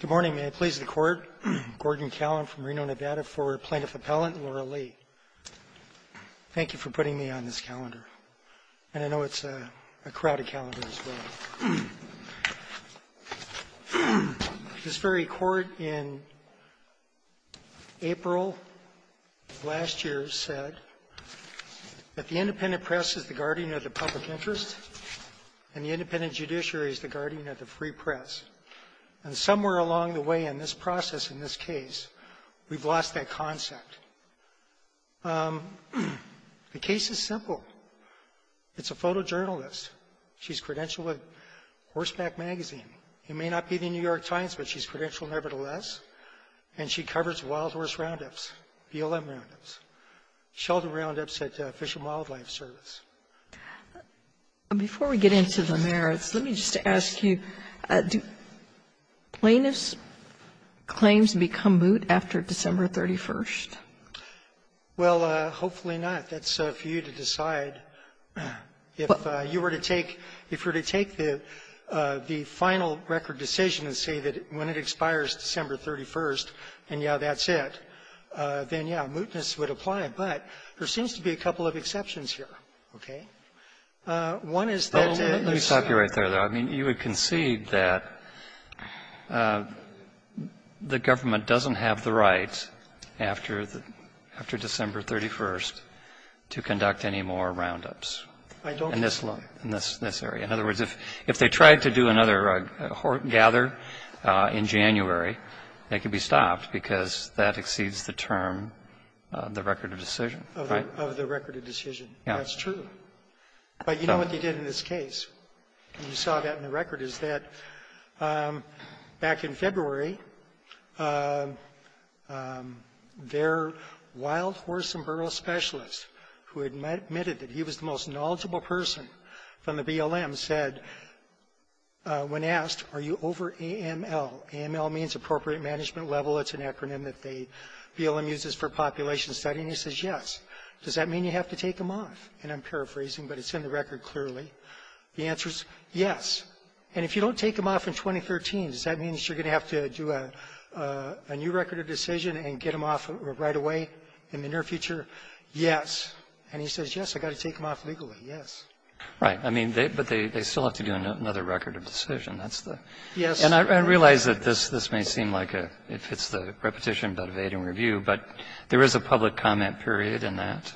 Good morning. May it please the Court. Gordon Callen from Reno, Nevada, for Plaintiff Appellant Laura Leigh. Thank you for putting me on this calendar, and I know it's a crowded calendar as well. This very Court in April of last year said that the independent press is the guardian of the public interest, and the independent judiciary is the guardian of the free press. And somewhere along the way in this process, in this case, we've lost that concept. The case is simple. It's a photojournalist. She's credentialed with Horseback Magazine. It may not be the New York Times, but she's credentialed nevertheless, and she covers wild horse roundups, BLM roundups, shelter roundups at Fish and Wildlife Service. Sotomayor Before we get into the merits, let me just ask you, do plaintiffs' claims become moot after December 31st? Well, hopefully not. That's for you to decide. If you were to take the final record decision and say that when it expires December 31st, and, yeah, that's it, then, yeah, mootness would apply. But there seems to be a couple of exceptions here, okay? One is that it's the law to conduct any more roundups. I mean, you would concede that the government doesn't have the right after the -- after December 31st to conduct any more roundups in this law, in this area. In other words, if they tried to do another gather in January, they could be stopped because that exceeds the term of the record of decision, right? Of the record of decision. Yeah. That's true. But you know what they did in this case, and you saw that in the record, is that back in February, their wild horse and burro specialist, who admitted that he was the most knowledgeable person from the BLM, said, when asked, are you over AML? AML means appropriate management level. It's an acronym that the BLM uses for population study. And he says, yes. Does that mean you have to take them off? And I'm paraphrasing, but it's in the record clearly. The answer is yes. And if you don't take them off in 2013, does that mean you're going to have to do a new record of decision and get them off right away in the near future? Yes. And he says, yes, I've got to take them off legally. Yes. Right. I mean, but they still have to do another record of decision. That's the question. Yes. And I realize that this may seem like it fits the repetition, but evade and review. But there is a public comment period in that.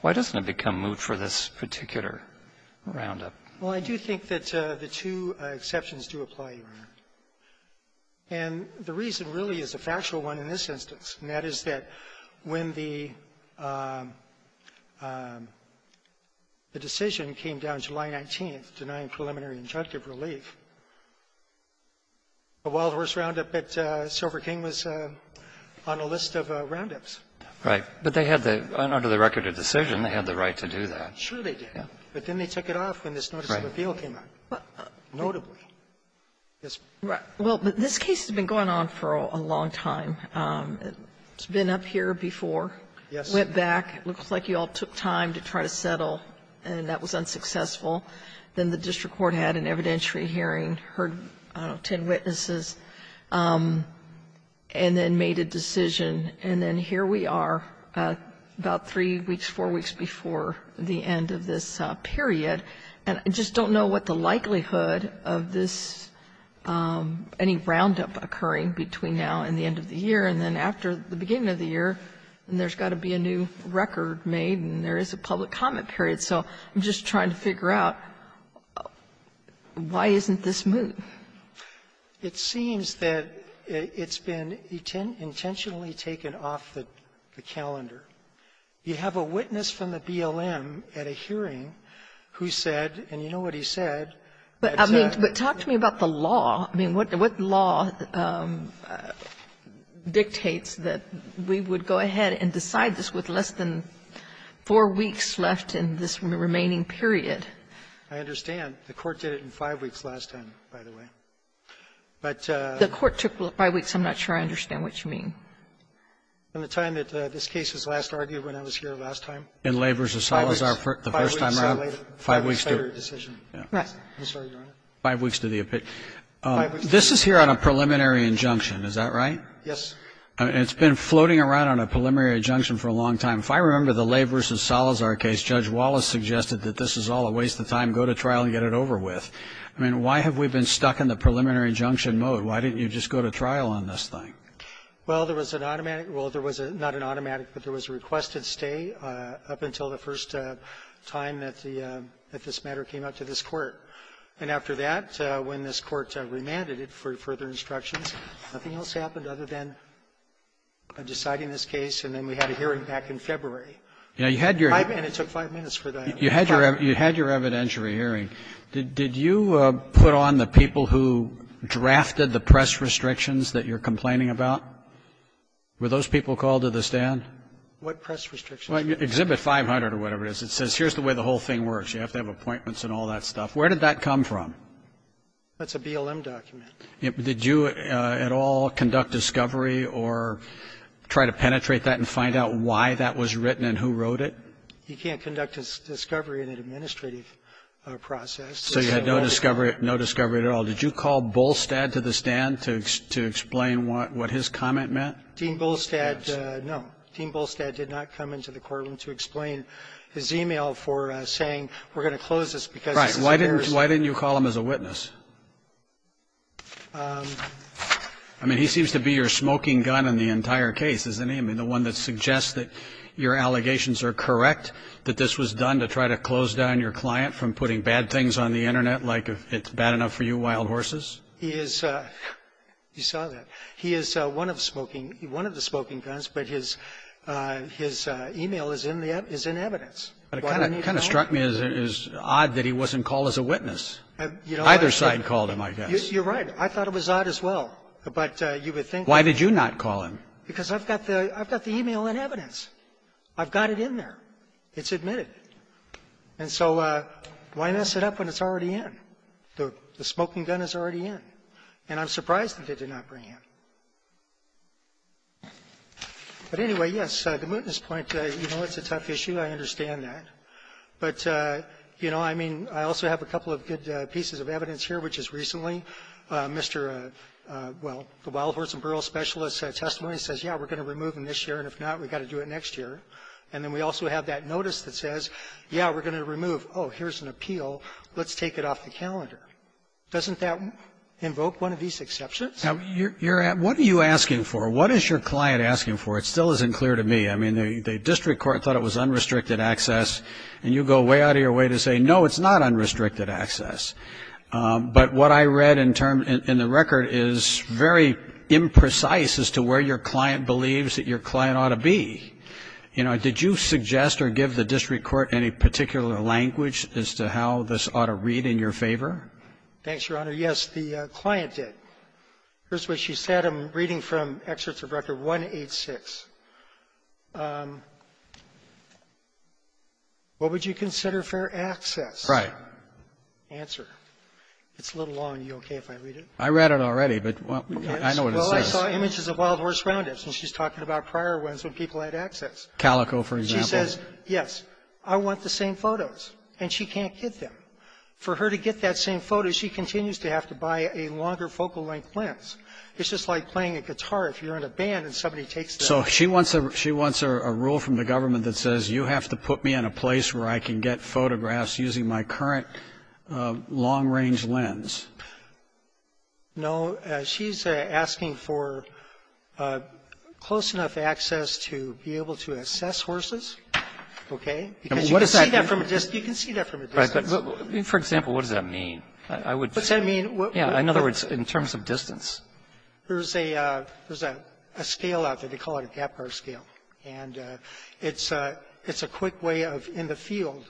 Why doesn't it become moot for this particular roundup? Well, I do think that the two exceptions do apply here. And the reason really is a factual one in this instance, and that is that when the decision came down July 19th, denying preliminary injunctive relief, the Wild Horse roundup at Silver King was on a list of roundups. Right. But they had the under the record of decision, they had the right to do that. Sure they did. But then they took it off when this notice of appeal came out. Right. Notably. Well, this case has been going on for a long time. It's been up here before. Yes. Went back. It looks like you all took time to try to settle, and that was unsuccessful. Then the district court had an evidentiary hearing, heard, I don't know, ten witnesses, and then made a decision. And then here we are about three weeks, four weeks before the end of this period. And I just don't know what the likelihood of this, any roundup occurring between now and the end of the year, and then after the beginning of the year, and there's got to be a new record made, and there is a public comment period. So I'm just trying to figure out why isn't this moot? It seems that it's been intentionally taken off the calendar. You have a witness from the BLM at a hearing who said, and you know what he said. But I mean, talk to me about the law. I mean, what law dictates that we would go ahead and decide this with less than four weeks left in this remaining period? I understand. The Court did it in five weeks last time, by the way. But the Court took five weeks. I'm not sure I understand what you mean. In the time that this case was last argued when I was here last time. In Labor v. Salazar, the first time around, five weeks to the decision. Right. I'm sorry, Your Honor. Five weeks to the opinion. This is here on a preliminary injunction. Is that right? Yes. It's been floating around on a preliminary injunction for a long time. If I remember the Labor v. Salazar case, Judge Wallace suggested that this is all a waste of time. Go to trial and get it over with. I mean, why have we been stuck in the preliminary injunction mode? Why didn't you just go to trial on this thing? Well, there was an automatic. Well, there was not an automatic, but there was a requested stay up until the first time that this matter came out to this Court. And after that, when this Court remanded it for further instructions, nothing else happened other than deciding this case. And then we had a hearing back in February. Yeah, you had your ---- And it took five minutes for that. You had your evidentiary hearing. Did you put on the people who drafted the press restrictions that you're complaining about? Were those people called to the stand? What press restrictions? Exhibit 500 or whatever it is. It says here's the way the whole thing works. You have to have appointments and all that stuff. Where did that come from? That's a BLM document. Did you at all conduct discovery or try to penetrate that and find out why that was written and who wrote it? You can't conduct a discovery in an administrative process. So you had no discovery at all. Did you call Bolstad to the stand to explain what his comment meant? Dean Bolstad, no. Dean Bolstad did not come into the courtroom to explain his e-mail for saying we're going to close this because this is a ---- Why didn't you call him as a witness? I mean, he seems to be your smoking gun in the entire case, doesn't he? I mean, the one that suggests that your allegations are correct, that this was done to try to close down your client from putting bad things on the Internet, like if it's bad enough for you wild horses? He is ---- You saw that. He is one of the smoking guns, but his e-mail is in evidence. It kind of struck me as odd that he wasn't called as a witness. Either side called him, I guess. You're right. I thought it was odd as well. But you would think ---- Why did you not call him? Because I've got the e-mail in evidence. I've got it in there. It's admitted. And so why mess it up when it's already in? The smoking gun is already in. And I'm surprised that they did not bring him. But anyway, yes, the witness point, you know, it's a tough issue. I understand that. But, you know, I mean, I also have a couple of good pieces of evidence here, which is recently, Mr. ---- well, the wild horse and burrow specialist's testimony says, yeah, we're going to remove him this year, and if not, we've got to do it next year. And then we also have that notice that says, yeah, we're going to remove. Oh, here's an appeal. Let's take it off the calendar. Doesn't that invoke one of these exceptions? Now, you're ---- what are you asking for? What is your client asking for? It still isn't clear to me. I mean, the district court thought it was unrestricted access, and you go way out of your way to say, no, it's not unrestricted access. But what I read in the record is very imprecise as to where your client believes that your client ought to be. You know, did you suggest or give the district court any particular language as to how this ought to read in your favor? Thanks, Your Honor. Yes, the client did. Here's what she said. I'm reading from excerpts of Record 186. What would you consider fair access? Right. Answer. It's a little long. Are you okay if I read it? I read it already, but I know what it says. Well, I saw images of wild horse roundups, and she's talking about prior ones when people had access. Calico, for example. She says, yes, I want the same photos, and she can't get them. For her to get that same photo, she continues to have to buy a longer focal length lens. It's just like playing a guitar if you're in a band and somebody takes the ---- So she wants a rule from the government that says you have to put me in a place where I can get photographs using my current long-range lens. No. She's asking for close enough access to be able to assess horses, okay? Because you can see that from a distance. You can see that from a distance. For example, what does that mean? What does that mean? In other words, in terms of distance. There's a scale out there. They call it a gap bar scale, and it's a quick way of, in the field,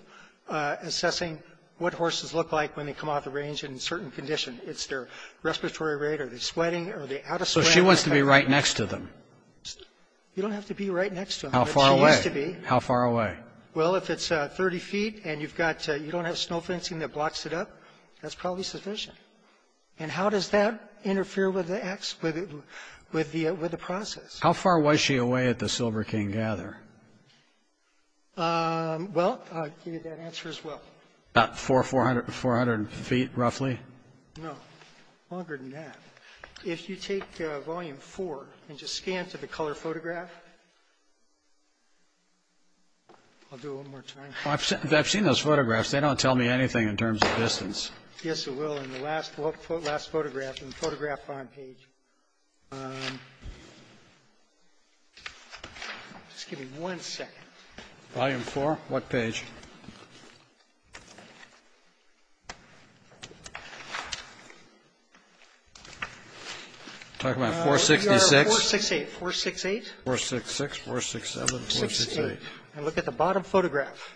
assessing what horses look like when they come off the range in a certain condition. It's their respiratory rate. Are they sweating? Are they out of sweat? So she wants to be right next to them. You don't have to be right next to them. How far away? How far away? Well, if it's 30 feet and you don't have snow fencing that blocks it up, that's probably sufficient. And how does that interfere with the process? How far was she away at the Silver King Gather? Well, I'll give you that answer as well. About 400 feet, roughly? No, longer than that. If you take volume 4 and just scan to the color photograph. I'll do it one more time. I've seen those photographs. They don't tell me anything in terms of distance. Yes, they will in the last photograph, in the photograph bottom page. Just give me one second. Volume 4? What page? I'm talking about 466. 468. 468. 466, 467, 468. And look at the bottom photograph.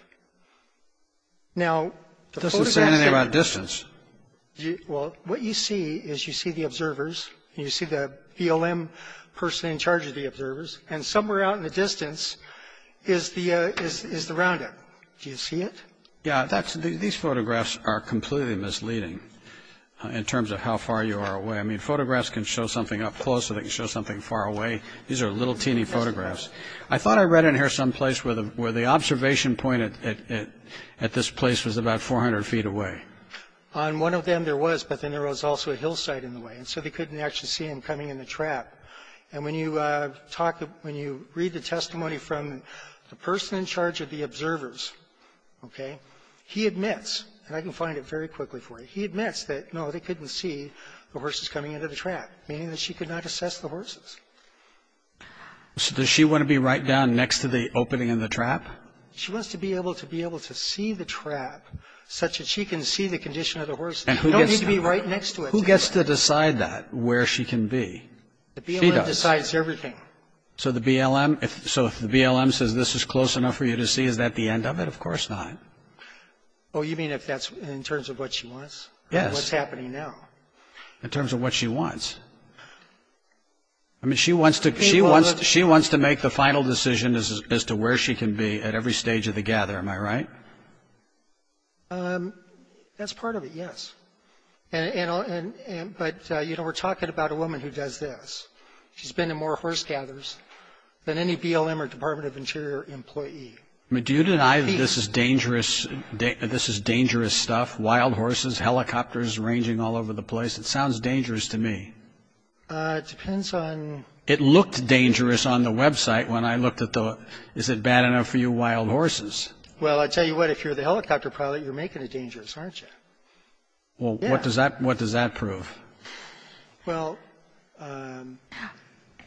Now, the photograph. It doesn't say anything about distance. Well, what you see is you see the observers. You see the BLM person in charge of the observers. And somewhere out in the distance is the roundup. Do you see it? Yeah, these photographs are completely misleading in terms of how far you are away. I mean, photographs can show something up close. They can show something far away. These are little teeny photographs. I thought I read in here someplace where the observation point at this place was about 400 feet away. On one of them there was, but then there was also a hillside in the way, and so they couldn't actually see him coming in the trap. And when you talk, when you read the testimony from the person in charge of the observers, okay, he admits, and I can find it very quickly for you, he admits that, no, they couldn't see the horses coming into the trap, meaning that she could not assess the horses. So does she want to be right down next to the opening in the trap? She wants to be able to be able to see the trap such that she can see the condition of the horse. You don't need to be right next to it. Who gets to decide that, where she can be? She does. The BLM decides everything. So the BLM, so if the BLM says this is close enough for you to see, is that the end of it? Of course not. Oh, you mean if that's in terms of what she wants? Yes. What's happening now? In terms of what she wants. I mean, she wants to make the final decision as to where she can be at every stage of the gather, am I right? That's part of it, yes. But, you know, we're talking about a woman who does this. She's been in more horse gathers than any BLM or Department of Interior employee. Do you deny that this is dangerous stuff, wild horses, helicopters ranging all over the place? It sounds dangerous to me. It depends on... It looked dangerous on the website when I looked at the, is it bad enough for you, wild horses? Well, I tell you what, if you're the helicopter pilot, you're making it dangerous, aren't you? Well, what does that prove? Well,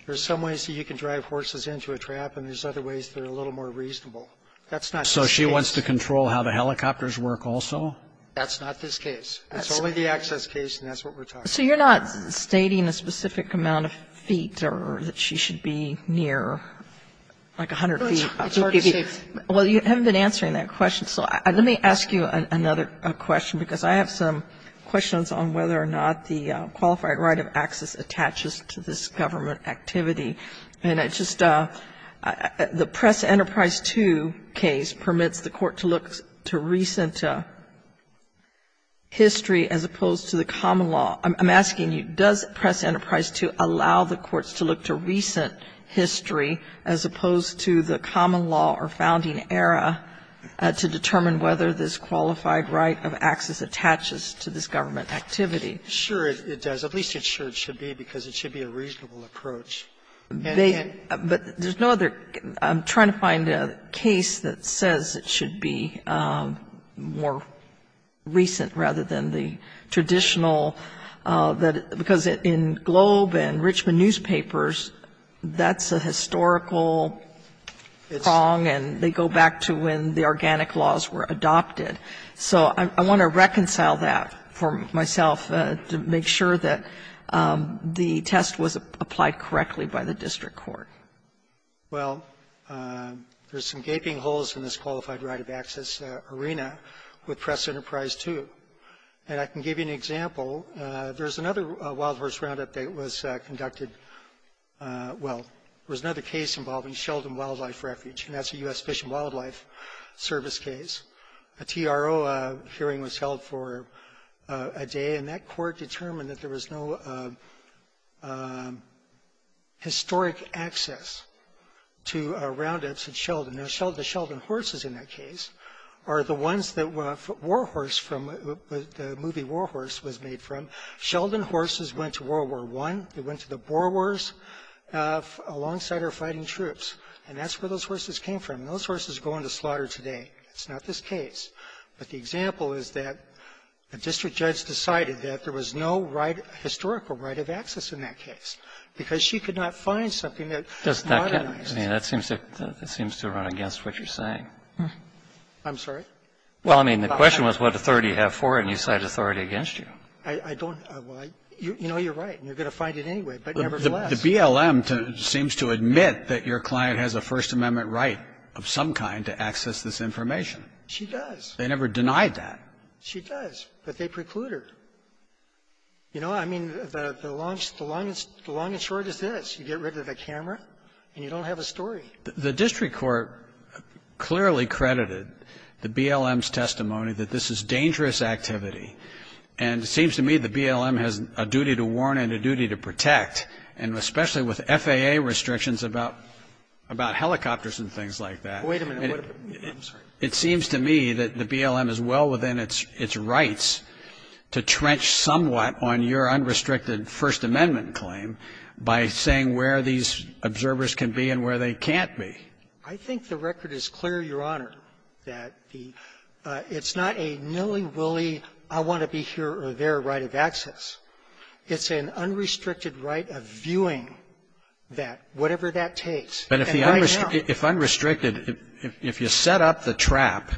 there's some ways that you can drive horses into a trap, and there's other ways that are a little more reasonable. That's not this case. So she wants to control how the helicopters work also? That's not this case. That's only the access case, and that's what we're talking about. So you're not stating a specific amount of feet or that she should be near, like, 100 feet? Well, you haven't been answering that question. So let me ask you another question, because I have some questions on whether or not the qualified right of access attaches to this government activity. And it's just the Press Enterprise 2 case permits the court to look to recent history as opposed to the common law. I'm asking you, does Press Enterprise 2 allow the courts to look to recent history as opposed to the common law or founding era to determine whether this qualified right of access attaches to this government activity? Sure, it does. At least it should be, because it should be a reasonable approach. But there's no other case. I'm trying to find a case that says it should be more recent rather than the traditional because in Globe and Richmond newspapers, that's a historical prong, and they go back to when the organic laws were adopted. So I want to reconcile that for myself to make sure that the test was applied correctly by the district court. Well, there's some gaping holes in this qualified right of access arena with Press Enterprise 2. And I can give you an example. There's another wild horse roundup that was conducted. Well, there was another case involving Sheldon Wildlife Refuge, and that's a U.S. Fish and Wildlife Service case. A TRO hearing was held for a day, and that court determined that there was no historic access to roundups at Sheldon. The Sheldon horses in that case are the ones that War Horse from the movie War Horse was made from. Sheldon horses went to World War I. They went to the Boer Wars alongside our fighting troops. And that's where those horses came from. Those horses go into slaughter today. It's not this case. But the example is that the district judge decided that there was no historical right of access in that case because she could not find something that was modernized. I mean, that seems to run against what you're saying. I'm sorry? Well, I mean, the question was what authority do you have for it, and you cite authority against you. I don't. Well, you know you're right, and you're going to find it anyway, but nevertheless. But the BLM seems to admit that your client has a First Amendment right of some kind to access this information. She does. They never denied that. She does, but they preclude her. You know, I mean, the long and short is this. You get rid of the camera, and you don't have a story. The district court clearly credited the BLM's testimony that this is dangerous activity, and it seems to me the BLM has a duty to warn and a duty to protect, and especially with FAA restrictions about helicopters and things like that. Wait a minute. I'm sorry. It seems to me that the BLM is well within its rights to trench somewhat on your unrestricted First Amendment claim by saying where these observers can be and where they can't be. I think the record is clear, Your Honor, that the – it's not a nilly-willy I want to be here or there right of access. It's an unrestricted right of viewing that, whatever that takes. But if the unrestricted – if unrestricted – if you set up the trap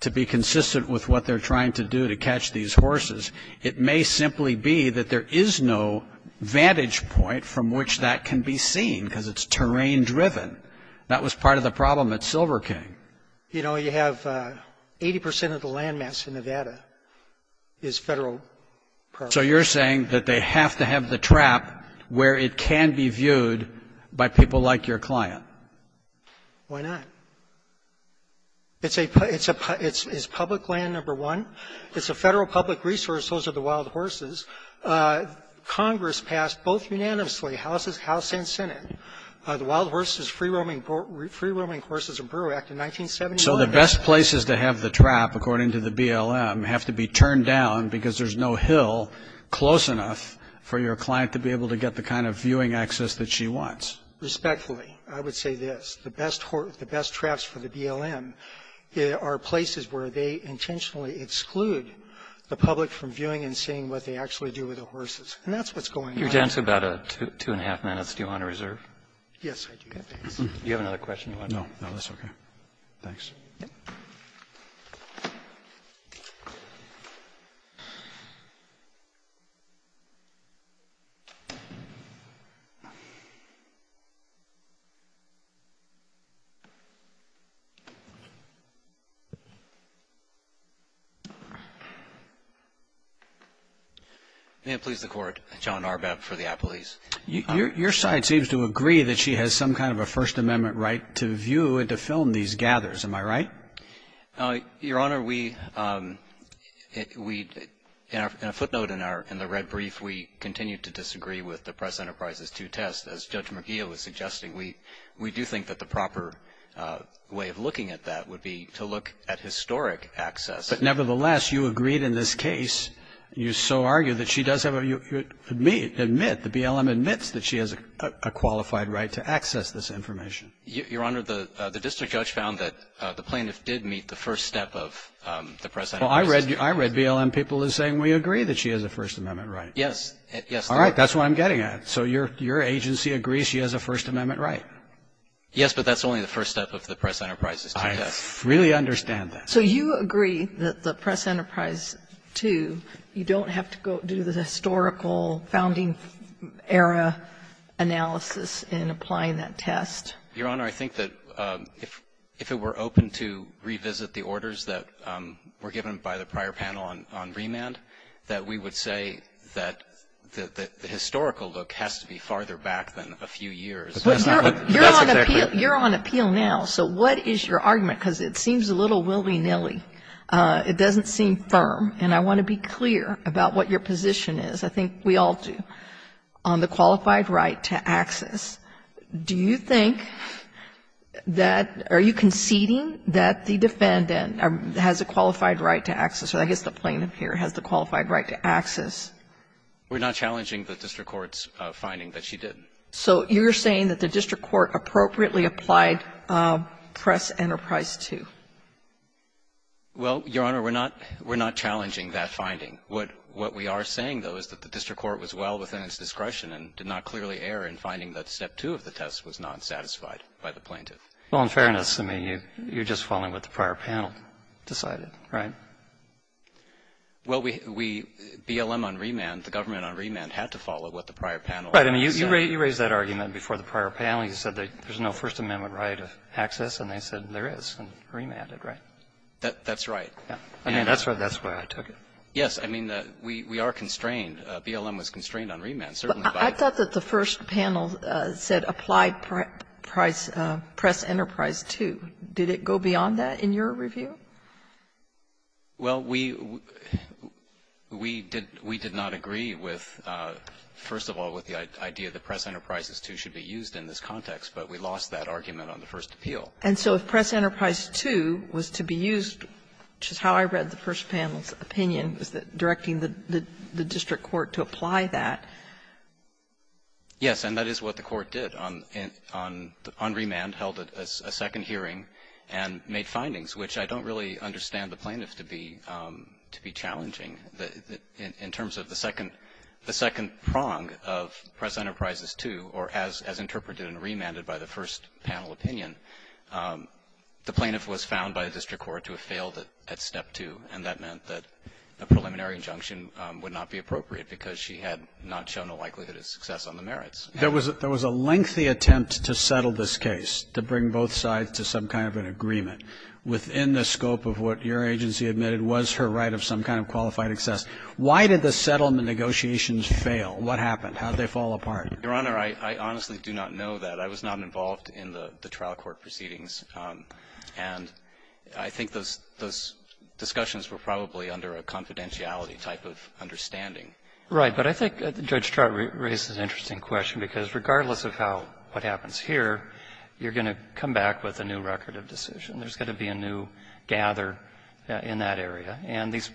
to be consistent with what they're trying to do to catch these horses, it may simply be that there is no vantage point from which that can be seen because it's terrain-driven. That was part of the problem at Silver King. You know, you have 80 percent of the land mass in Nevada is Federal property. So you're saying that they have to have the trap where it can be viewed by people like your client. Why not? It's a – it's a – it's public land, number one. It's a Federal public resource. Those are the wild horses. Congress passed both unanimously, House and Senate, the Wild Horses Free-Roaming Horses and Brewer Act of 1979. So the best places to have the trap, according to the BLM, have to be turned down because there's no hill close enough for your client to be able to get the kind of viewing access that she wants. Respectfully, I would say this. The best – the best traps for the BLM are places where they intentionally exclude the public from viewing and seeing what they actually do with the horses. And that's what's going on. You're down to about two and a half minutes. Do you want to reserve? Yes, I do. Thanks. Do you have another question? No. No, that's okay. Thanks. Thank you. May it please the Court. John Arbab for the Apple East. Your side seems to agree that she has some kind of a First Amendment right to view and to film these gathers. Am I right? Your Honor, we – in a footnote in our – in the red brief, we continue to disagree with the Press Enterprise's two tests. As Judge McGeough was suggesting, we do think that the proper way of looking at that would be to look at historic access. But nevertheless, you agreed in this case, you so argue, that she does have a – admit, the BLM admits that she has a qualified right to access this information. Your Honor, the district judge found that the plaintiff did meet the first step of the Press Enterprise's two tests. Well, I read BLM people as saying, we agree that she has a First Amendment right. Yes. All right. That's what I'm getting at. So your agency agrees she has a First Amendment right? Yes, but that's only the first step of the Press Enterprise's two tests. I really understand that. So you agree that the Press Enterprise two, you don't have to go do the historical founding era analysis in applying that test? Your Honor, I think that if it were open to revisit the orders that were given by the prior panel on remand, that we would say that the historical look has to be farther back than a few years. You're on appeal now. So what is your argument? Because it seems a little willy-nilly. It doesn't seem firm. And I want to be clear about what your position is. I think we all do. So you're saying that the District Court, on the qualified right to access, do you think that or are you conceding that the defendant has a qualified right to access? Or I guess the plaintiff here has the qualified right to access. We're not challenging the District Court's finding that she did. So you're saying that the District Court appropriately applied Press Enterprise two? Well, Your Honor, we're not challenging that finding. We're not challenging that finding. We're not challenging the plaintiff's discretion and did not clearly err in finding that step two of the test was not satisfied by the plaintiff. Well, in fairness to me, you're just following what the prior panel decided, right? Well, we, BLM on remand, the government on remand, had to follow what the prior panel said. Right. I mean, you raised that argument before the prior panel. You said that there's no First Amendment right of access. And they said there is and remanded, right? That's right. I mean, that's where I took it. Yes, I mean, we are constrained. BLM was constrained on remand, certainly. But I thought that the first panel said apply Press Enterprise two. Did it go beyond that in your review? Well, we did not agree with, first of all, with the idea that Press Enterprises two should be used in this context. But we lost that argument on the first appeal. And so if Press Enterprise two was to be used, which is how I read the first panel's opinion, was that directing the district court to apply that. Yes. And that is what the court did on remand, held a second hearing and made findings, which I don't really understand the plaintiff to be challenging. In terms of the second prong of Press Enterprises two, or as interpreted and remanded by the first panel opinion, the plaintiff was found by the district court to have failed it at step two. And that meant that a preliminary injunction would not be appropriate because she had not shown a likelihood of success on the merits. There was a lengthy attempt to settle this case, to bring both sides to some kind of an agreement within the scope of what your agency admitted was her right of some kind of qualified access. Why did the settlement negotiations fail? What happened? How did they fall apart? Your Honor, I honestly do not know that. I was not involved in the trial court proceedings. And I think those discussions were probably under a confidentiality type of understanding. Right. But I think Judge Trott raises an interesting question, because regardless of how what happens here, you're going to come back with a new record of decision. There's going to be a new gather in that area. And this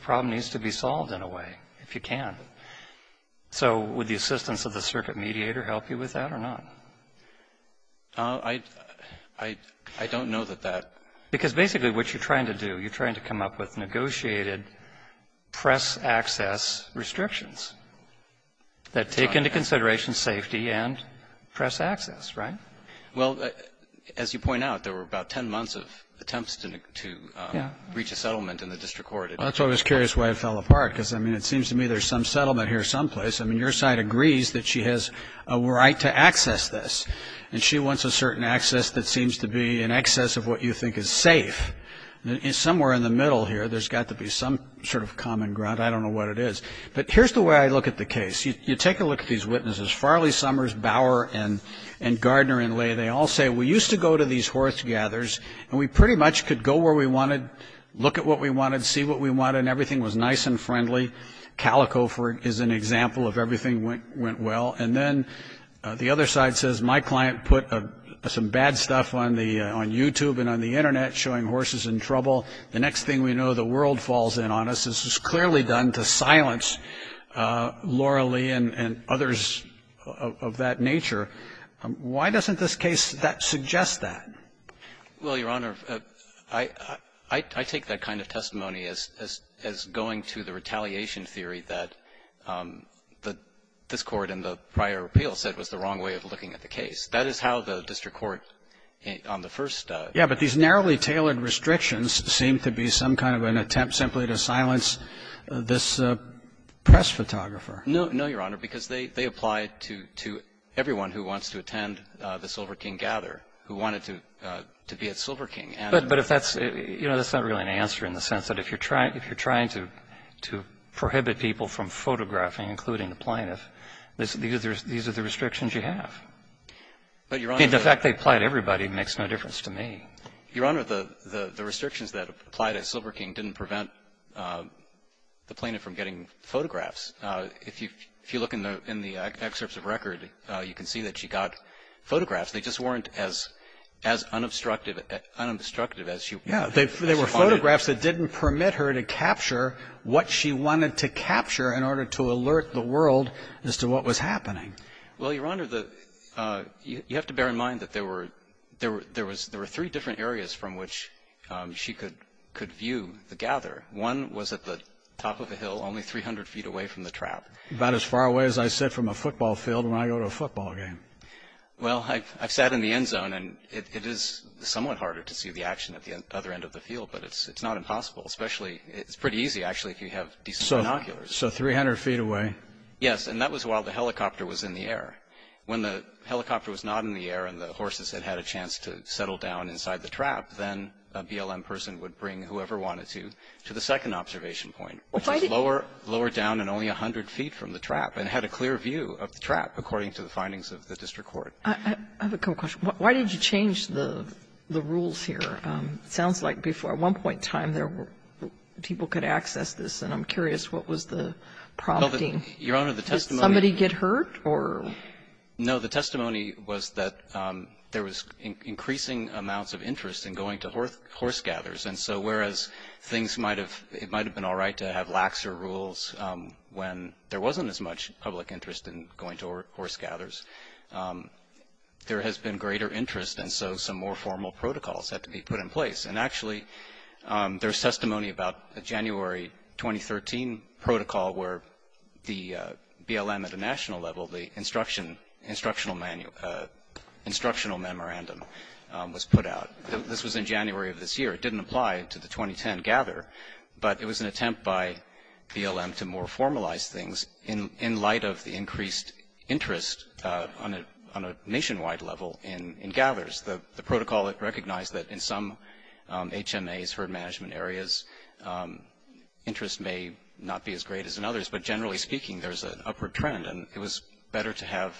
problem needs to be solved in a way, if you can. So would the assistance of the circuit mediator help you with that or not? I don't know that that ---- Because basically what you're trying to do, you're trying to come up with negotiated press access restrictions that take into consideration safety and press access, right? Well, as you point out, there were about 10 months of attempts to reach a settlement in the district court. Well, that's why I was curious why it fell apart. Because, I mean, it seems to me there's some settlement here someplace. I mean, your side agrees that she has a right to access this. And she wants a certain access that seems to be in excess of what you think is safe. And somewhere in the middle here, there's got to be some sort of common ground. I don't know what it is. But here's the way I look at the case. You take a look at these witnesses. Farley Summers, Bower, and Gardner and Lay, they all say, we used to go to these and everything was nice and friendly. Calico is an example of everything went well. And then the other side says, my client put some bad stuff on YouTube and on the Internet showing horses in trouble. The next thing we know, the world falls in on us. This was clearly done to silence Laura Lee and others of that nature. Why doesn't this case suggest that? Well, Your Honor, I take that kind of testimony as going to the retaliation theory that this Court in the prior appeal said was the wrong way of looking at the case. That is how the district court on the first. Yeah, but these narrowly tailored restrictions seem to be some kind of an attempt simply to silence this press photographer. No, Your Honor, because they apply to everyone who wants to attend the Silver King Gather, who wanted to be at Silver King. But if that's, you know, that's not really an answer in the sense that if you're trying to prohibit people from photographing, including the plaintiff, these are the restrictions you have. The fact they apply to everybody makes no difference to me. Your Honor, the restrictions that apply to Silver King didn't prevent the plaintiff from getting photographs. If you look in the excerpts of record, you can see that she got photographs. They just weren't as unobstructed as she wanted. Yeah, they were photographs that didn't permit her to capture what she wanted to capture in order to alert the world as to what was happening. Well, Your Honor, you have to bear in mind that there were three different areas from which she could view the gather. One was at the top of a hill only 300 feet away from the trap. About as far away as I sit from a football field when I go to a football game. Well, I've sat in the end zone, and it is somewhat harder to see the action at the other end of the field, but it's not impossible. Especially, it's pretty easy, actually, if you have decent binoculars. So 300 feet away. Yes. And that was while the helicopter was in the air. When the helicopter was not in the air and the horses had had a chance to settle down inside the trap, then a BLM person would bring whoever wanted to to the second observation point, which is lower down and only 100 feet from the trap, and had a clear view of the trap, according to the findings of the district court. I have a couple questions. Why did you change the rules here? It sounds like before, at one point in time, people could access this. And I'm curious, what was the prompting? Your Honor, the testimony. Did somebody get hurt? No. The testimony was that there was increasing amounts of interest in going to horse gathers. And so whereas things might have been all right to have laxer rules when there wasn't as much public interest in going to horse gathers, there has been greater interest, and so some more formal protocols have to be put in place. And actually, there's testimony about a January 2013 protocol where the BLM at a national level, the instructional memorandum was put out. This was in January of this year. It didn't apply to the 2010 gather, but it was an attempt by BLM to more formalize things in light of the increased interest on a nationwide level in gathers. The protocol recognized that in some HMAs, herd management areas, interest may not be as great as in others. But generally speaking, there's an upward trend, and it was better to have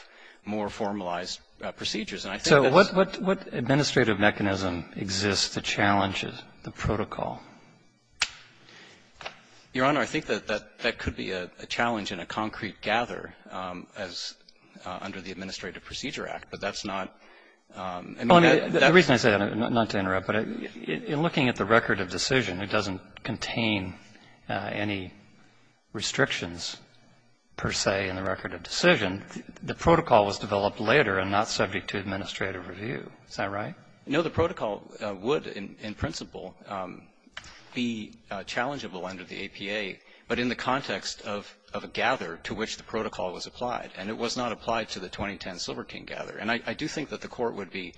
more formalized procedures. So what administrative mechanism exists to challenge the protocol? Your Honor, I think that could be a challenge in a concrete gather as under the Administrative Procedure Act, but that's not the reason I say that, not to interrupt, but in looking at the record of decision, it doesn't contain any restrictions, per se, in the record of decision. The protocol was developed later and not subject to administrative review. Is that right? No. The protocol would, in principle, be challengeable under the APA, but in the context of a gather to which the protocol was applied. And it was not applied to the 2010 Silver King gather. And I do think that the Court would be,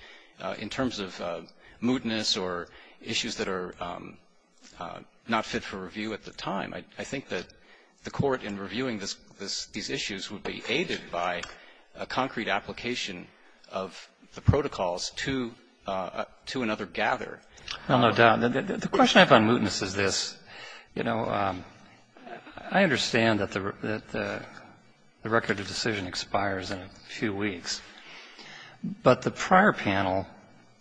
in terms of mootness or issues that are not fit for review at the time, I think that the Court, in reviewing these issues, would be aided by a concrete application of the protocols to another gather. Well, no doubt. The question I have on mootness is this. You know, I understand that the record of decision expires in a few weeks, but the prior panel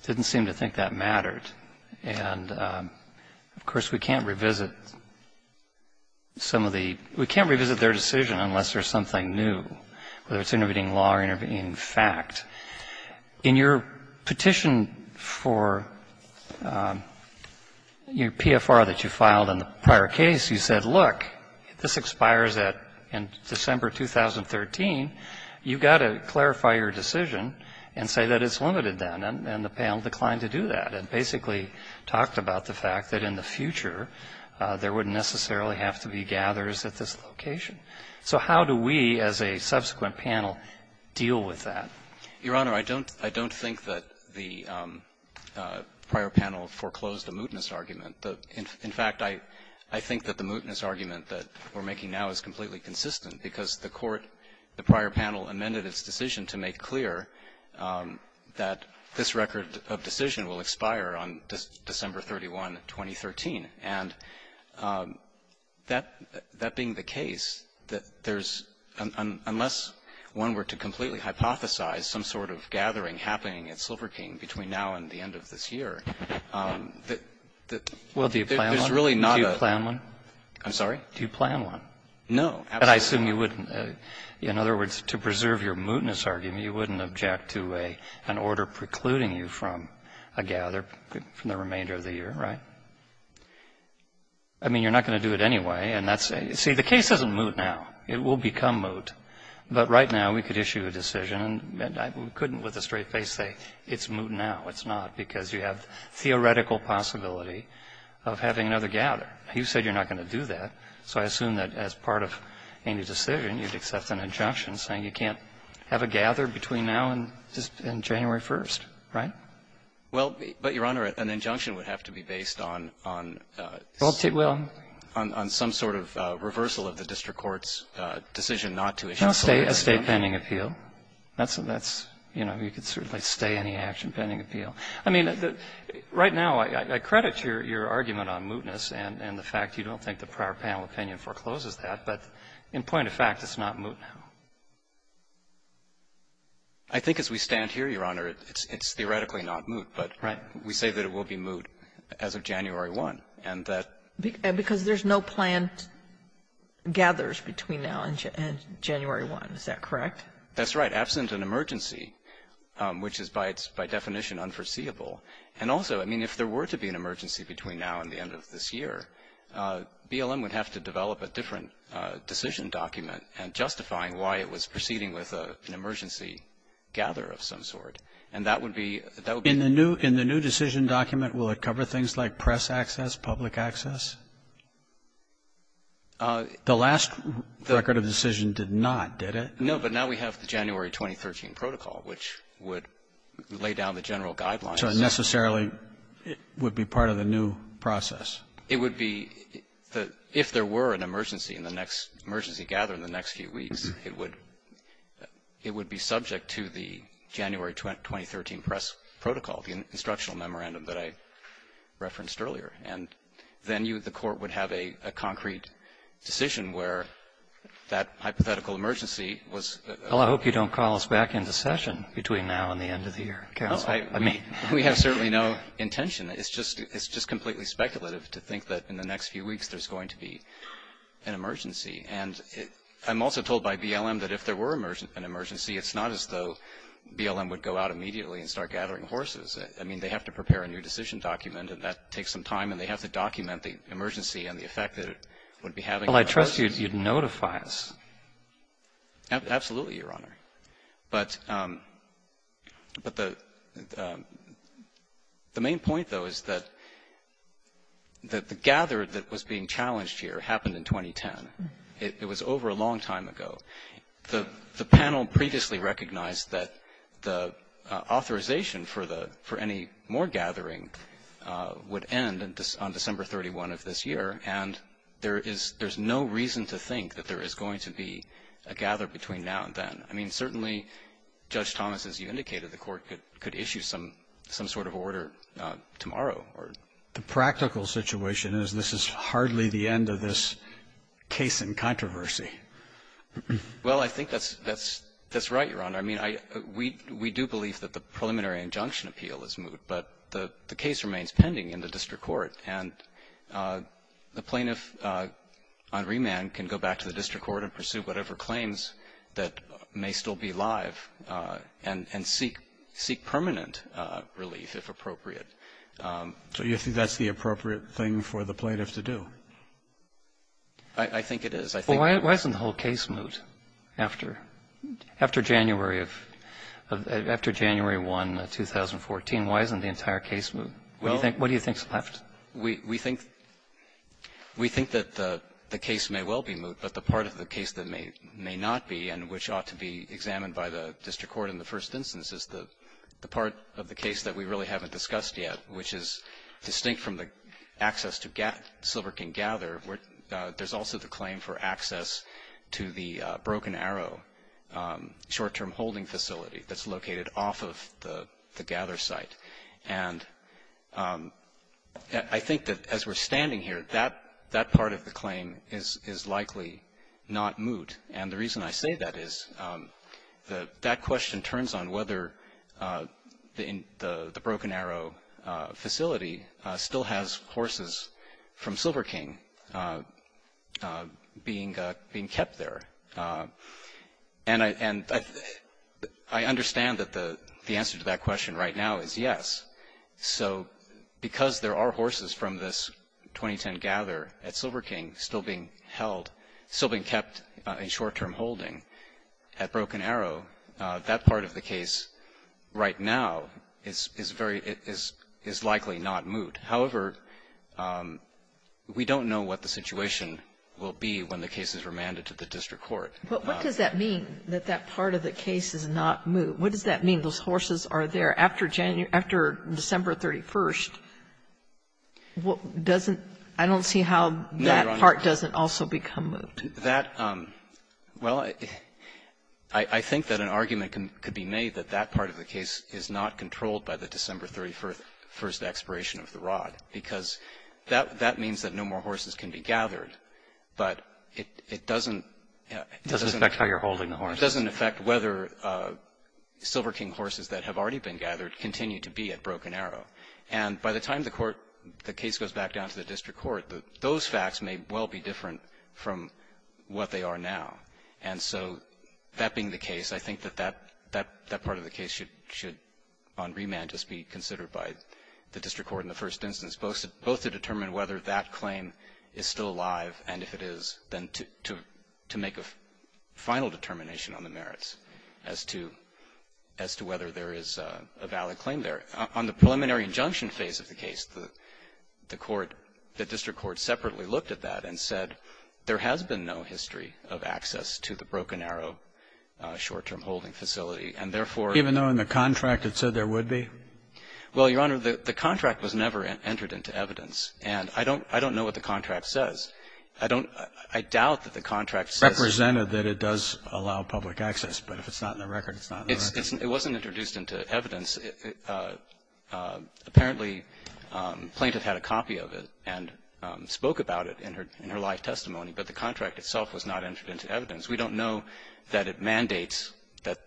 didn't seem to think that mattered. And, of course, we can't revisit some of the we can't revisit their decision unless there's something new, whether it's intervening law or intervening fact. In your petition for your PFR that you filed in the prior case, you said, look, this expires in December 2013. You've got to clarify your decision and say that it's limited then. And the panel declined to do that and basically talked about the fact that in the future there wouldn't necessarily have to be gathers at this location. So how do we, as a subsequent panel, deal with that? Your Honor, I don't think that the prior panel foreclosed a mootness argument. In fact, I think that the mootness argument that we're making now is completely consistent because the court, the prior panel, amended its decision to make clear that this record of decision will expire on December 31, 2013. And that being the case, that there's, unless one were to completely hypothesize some sort of gathering happening at Silver King between now and the end of this year, that there's really not a do you plan one? I'm sorry? Do you plan one? No. But I assume you wouldn't. In other words, to preserve your mootness argument, you wouldn't object to an order precluding you from a gather from the remainder of the year, right? I mean, you're not going to do it anyway. See, the case isn't moot now. It will become moot. But right now we could issue a decision, and I couldn't with a straight face say it's moot now. It's not, because you have theoretical possibility of having another gather. You said you're not going to do that. So I assume that as part of any decision, you'd accept an injunction saying you can't have a gather between now and January 1, right? Well, but, Your Honor, an injunction would have to be based on some sort of reversal of the district court's decision not to issue. No, a state pending appeal. That's, you know, you could certainly say any action pending appeal. I mean, right now I credit your argument on mootness and the fact you don't think the prior panel opinion forecloses that. But in point of fact, it's not moot now. I think as we stand here, Your Honor, it's theoretically not moot. Right. But we say that it will be moot as of January 1. Because there's no planned gathers between now and January 1. Is that correct? That's right. Absent an emergency, which is by definition unforeseeable. And also, I mean, if there were to be an emergency between now and the end of this proceeding with an emergency gather of some sort, and that would be the new decision document, will it cover things like press access, public access? The last record of decision did not, did it? No. But now we have the January 2013 protocol, which would lay down the general guidelines. So it necessarily would be part of the new process. It would be the, if there were an emergency in the next, emergency gather in the next few weeks, it would, it would be subject to the January 2013 press protocol, the instructional memorandum that I referenced earlier. And then you, the Court would have a concrete decision where that hypothetical emergency was. Well, I hope you don't call us back into session between now and the end of the year, counsel. I mean. We have certainly no intention. It's just, it's just completely speculative to think that in the next few weeks there's going to be an emergency. And I'm also told by BLM that if there were an emergency, it's not as though BLM would go out immediately and start gathering horses. I mean, they have to prepare a new decision document, and that takes some time, and they have to document the emergency and the effect that it would be having. Well, I trust you'd notify us. Absolutely, Your Honor. But, but the, the main point, though, is that, that the gather that was being challenged here happened in 2010. It was over a long time ago. The, the panel previously recognized that the authorization for the, for any more gathering would end on December 31 of this year, and there is, there's no reason to think that there is going to be a gather between now and then. I mean, certainly, Judge Thomas, as you indicated, the Court could, could issue some, some sort of order tomorrow or. The practical situation is this is hardly the end of this case in controversy. Well, I think that's, that's, that's right, Your Honor. I mean, I, we, we do believe that the preliminary injunction appeal is moot, but the, the case remains pending in the district court. And the plaintiff on remand can go back to the district court and pursue whatever claims that may still be live and, and seek, seek permanent relief, if appropriate. So you think that's the appropriate thing for the plaintiff to do? I, I think it is. Well, why, why isn't the whole case moot? After, after January of, of, after January 1, 2014, why isn't the entire case moot? Well. What do you think, what do you think's left? We, we think, we think that the, the case may well be moot, but the part of the case that may, may not be and which ought to be examined by the district court in the first instance is the, the part of the case that we really haven't discussed yet, which is distinct from the access to Silver King Gather where there's also the claim for I, I think that as we're standing here, that, that part of the claim is, is likely not moot, and the reason I say that is the, that question turns on whether the, the Broken Arrow facility still has horses from Silver King being, being kept there. And I, and I, I understand that the, the answer to that question right now is yes. So because there are horses from this 2010 gather at Silver King still being held, still being kept in short-term holding at Broken Arrow, that part of the case right now is, is very, is, is likely not moot. However, we don't know what the situation will be when the case is remanded to the district court. But what does that mean, that that part of the case is not moot? What does that mean, those horses are there after January, after December 31st? What, doesn't, I don't see how that part doesn't also become moot. That, well, I, I think that an argument can, could be made that that part of the case is not controlled by the December 31st expiration of the rod. Because that, that means that no more horses can be gathered. But it, it doesn't. It doesn't affect how you're holding the horses. It doesn't affect whether Silver King horses that have already been gathered continue to be at Broken Arrow. And by the time the court, the case goes back down to the district court, those facts may well be different from what they are now. And so that being the case, I think that that, that, that part of the case should, should on remand just be considered by the district court in the first instance, both, both to determine whether that claim is still alive, and if it is, then to, to, to make a final determination on the merits as to, as to whether there is a valid claim there. On the preliminary injunction phase of the case, the, the court, the district court separately looked at that and said there has been no history of access to the Broken Arrow short-term holding facility. And, therefore, Even though in the contract it said there would be? Well, Your Honor, the, the contract was never entered into evidence. And I don't, I don't know what the contract says. I don't, I doubt that the contract says. Represented that it does allow public access, but if it's not in the record, it's not in the record. It's, it wasn't introduced into evidence. Apparently, Plaintiff had a copy of it and spoke about it in her, in her life testimony, but the contract itself was not entered into evidence. We don't know that it mandates that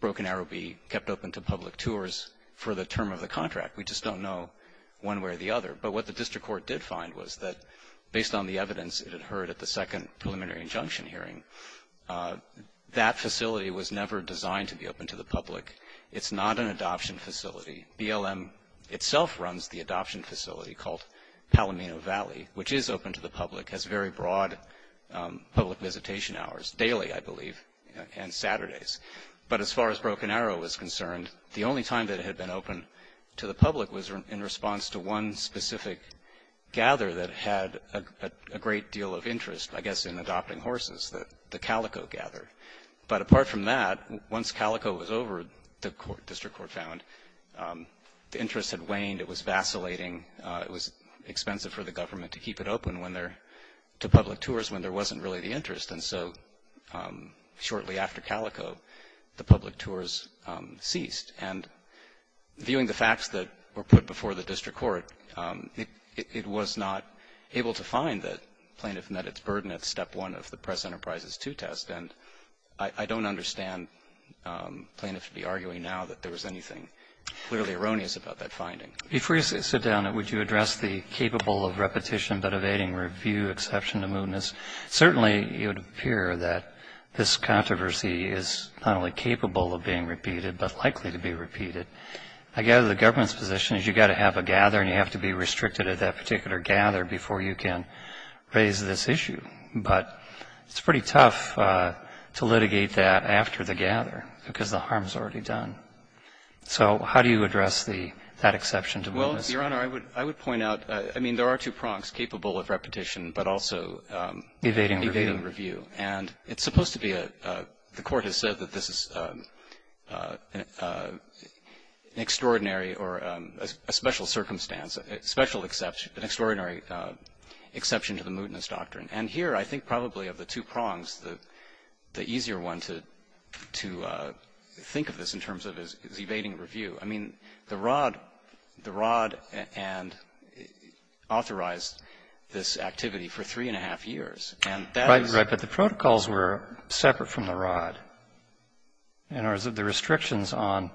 Broken Arrow be kept open to public tours for the term of the contract. We just don't know one way or the other. But what the district court did find was that based on the evidence it had heard at the second preliminary injunction hearing, that facility was never designed to be open to the public. It's not an adoption facility. BLM itself runs the adoption facility called Palomino Valley, which is open to the public, has very broad public visitation hours, daily, I believe, and Saturdays. But as far as Broken Arrow was concerned, the only time that it had been open to the public was at a specific gather that had a great deal of interest, I guess, in adopting horses, the Calico Gather. But apart from that, once Calico was over, the district court found, the interest had waned. It was vacillating. It was expensive for the government to keep it open when there, to public tours when there wasn't really the interest. And so shortly after Calico, the public tours ceased. And viewing the facts that were put before the district court, it was not able to find that plaintiff met its burden at step one of the Press Enterprises II test. And I don't understand plaintiffs to be arguing now that there was anything clearly erroneous about that finding. If we sit down, would you address the capable of repetition but evading review exception to mootness? Certainly, it would appear that this controversy is not only going to be repeated. I gather the government's position is you've got to have a gather and you have to be restricted at that particular gather before you can raise this issue. But it's pretty tough to litigate that after the gather because the harm is already done. So how do you address that exception to mootness? Well, Your Honor, I would point out, I mean, there are two prongs, capable of repetition but also evading review. Evading review. And it's supposed to be a, the Court has said that this is an extraordinary or a special circumstance, special exception, an extraordinary exception to the mootness doctrine. And here, I think probably of the two prongs, the easier one to think of this in terms of is evading review. I mean, the R.O.D. authorized this activity for three and a half years. Right, right. But the protocols were separate from the R.O.D. In other words, the restrictions on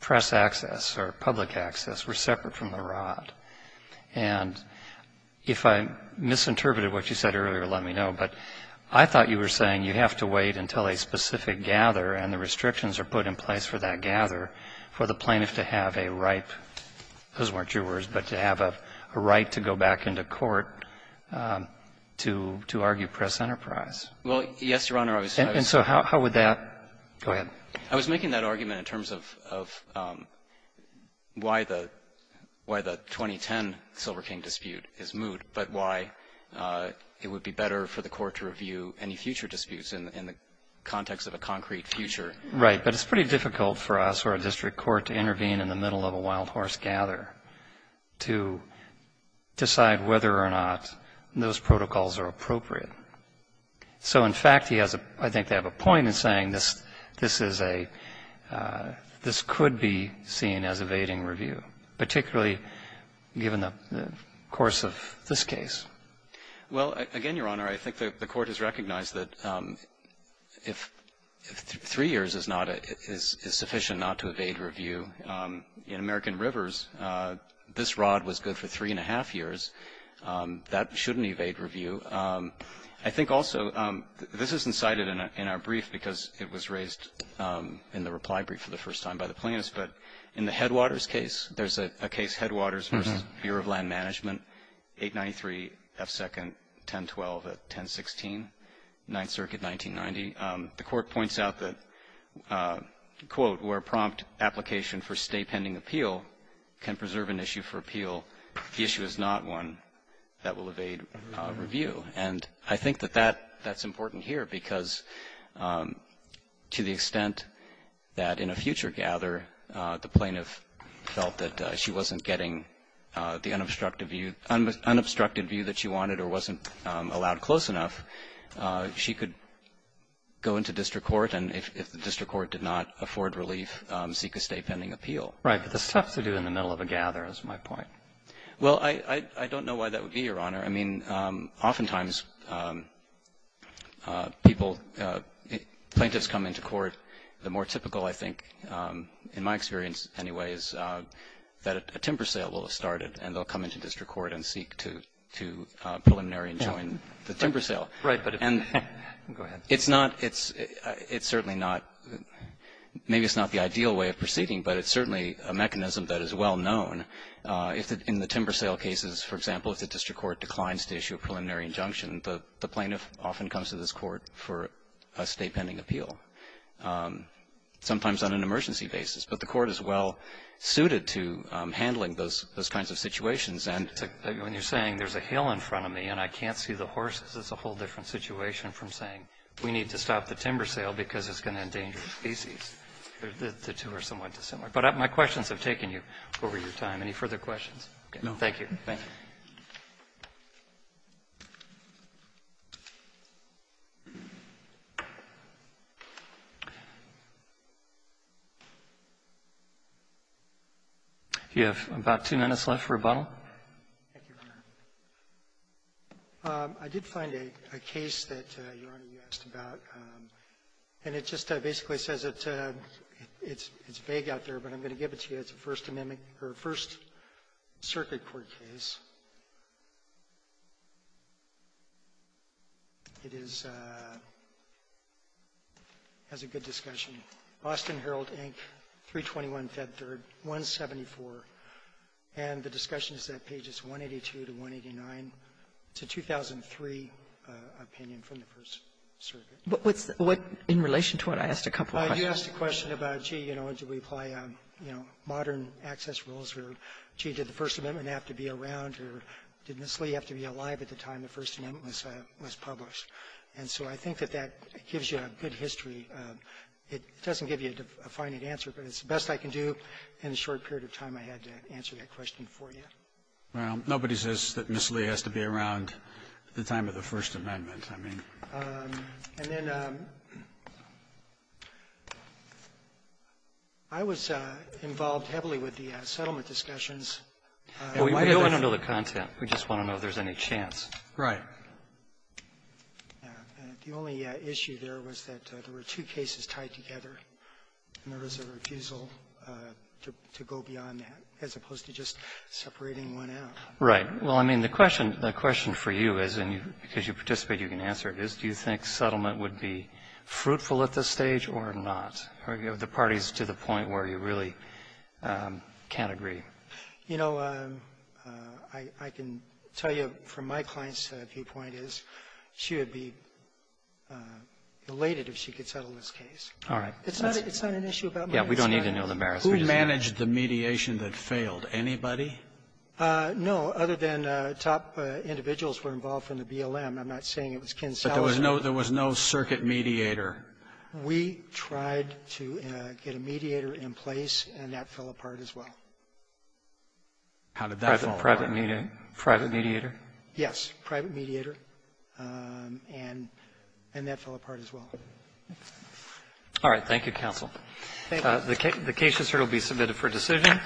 press access or public access were separate from the R.O.D. And if I misinterpreted what you said earlier, let me know. But I thought you were saying you have to wait until a specific gather and the restrictions are put in place for that gather for the plaintiff to have a right those weren't your words, but to have a right to go back into court to argue press enterprise. Well, yes, Your Honor, I was going to say. And so how would that go ahead? I was making that argument in terms of why the 2010 Silver King dispute is moot, but why it would be better for the Court to review any future disputes in the context of a concrete future. Right. But it's pretty difficult for us or a district court to intervene in the middle of a wild horse gather to decide whether or not those protocols are appropriate. So, in fact, he has a — I think they have a point in saying this is a — this could be seen as evading review, particularly given the course of this case. Well, again, Your Honor, I think the Court has recognized that if three years is not enough, is sufficient not to evade review. In American Rivers, this rod was good for three and a half years. That shouldn't evade review. I think also — this isn't cited in our brief because it was raised in the reply brief for the first time by the plaintiffs, but in the Headwaters case, there's a case, Headwaters v. Bureau of Land Management, 893 F. 2nd. 1012 at 1016, Ninth Circuit, 1990. The Court points out that, quote, where prompt application for stay-pending appeal can preserve an issue for appeal, the issue is not one that will evade review. And I think that that's important here because, to the extent that in a future gather, the plaintiff felt that she wasn't getting the unobstructed view — unobstructed view that she wanted or wasn't allowed close enough, she could go into district court, and if the district court did not afford relief, seek a stay-pending appeal. Right. But the substitute in the middle of a gather is my point. Well, I don't know why that would be, Your Honor. I mean, oftentimes people — plaintiffs come into court. The more typical, I think, in my experience anyway, is that a timber sale will have to be a preliminary and join the timber sale. Right. But if — go ahead. It's not — it's certainly not — maybe it's not the ideal way of proceeding, but it's certainly a mechanism that is well-known. In the timber sale cases, for example, if the district court declines to issue a preliminary injunction, the plaintiff often comes to this court for a stay-pending appeal, sometimes on an emergency basis. But the Court is well-suited to handling those kinds of situations. And when you're saying there's a hill in front of me and I can't see the horses, it's a whole different situation from saying we need to stop the timber sale because it's going to endanger the species. The two are somewhat dissimilar. But my questions have taken you over your time. Any further questions? No. Thank you. Thank you. Do you have about two minutes left for rebuttal? Thank you, Your Honor. I did find a case that Your Honor, you asked about. And it just basically says it's vague out there, but I'm going to give it to you. It's a First Amendment or First Circuit Court case. It is as a good discussion. Boston Herald, Inc., 321 Fed 3rd, 174. And the discussion is that pages 182 to 189, it's a 2003 opinion from the First Circuit. But what's the what in relation to what I asked a couple of questions. You asked a question about, gee, you know, do we apply, you know, modern access rules, or gee, did the First Amendment have to be around, or did Ms. Lee have to be alive at the time the First Amendment was published? And so I think that that gives you a good history. It doesn't give you a finite answer, but it's the best I can do. In a short period of time, I had to answer that question for you. Well, nobody says that Ms. Lee has to be around the time of the First Amendment. And then I was involved heavily with the settlement discussions. We don't want to know the content. We just want to know if there's any chance. Right. The only issue there was that there were two cases tied together, and there was a refusal to go beyond that, as opposed to just separating one out. Right. Well, I mean, the question for you is, and because you participate, you can answer it, is do you think settlement would be fruitful at this stage or not? Are the parties to the point where you really can't agree? You know, I can tell you from my client's viewpoint is she would be elated if she could settle this case. All right. It's not an issue about marriage. Yeah, we don't need to know the marriage. Who managed the mediation that failed? Anybody? No, other than top individuals were involved from the BLM. I'm not saying it was Ken Salazar. But there was no circuit mediator. We tried to get a mediator in place, and that fell apart as well. How did that fall apart? Private mediator? Yes. Private mediator. And that fell apart as well. All right. Thank you, counsel. Thank you. The case is here to be submitted for decision.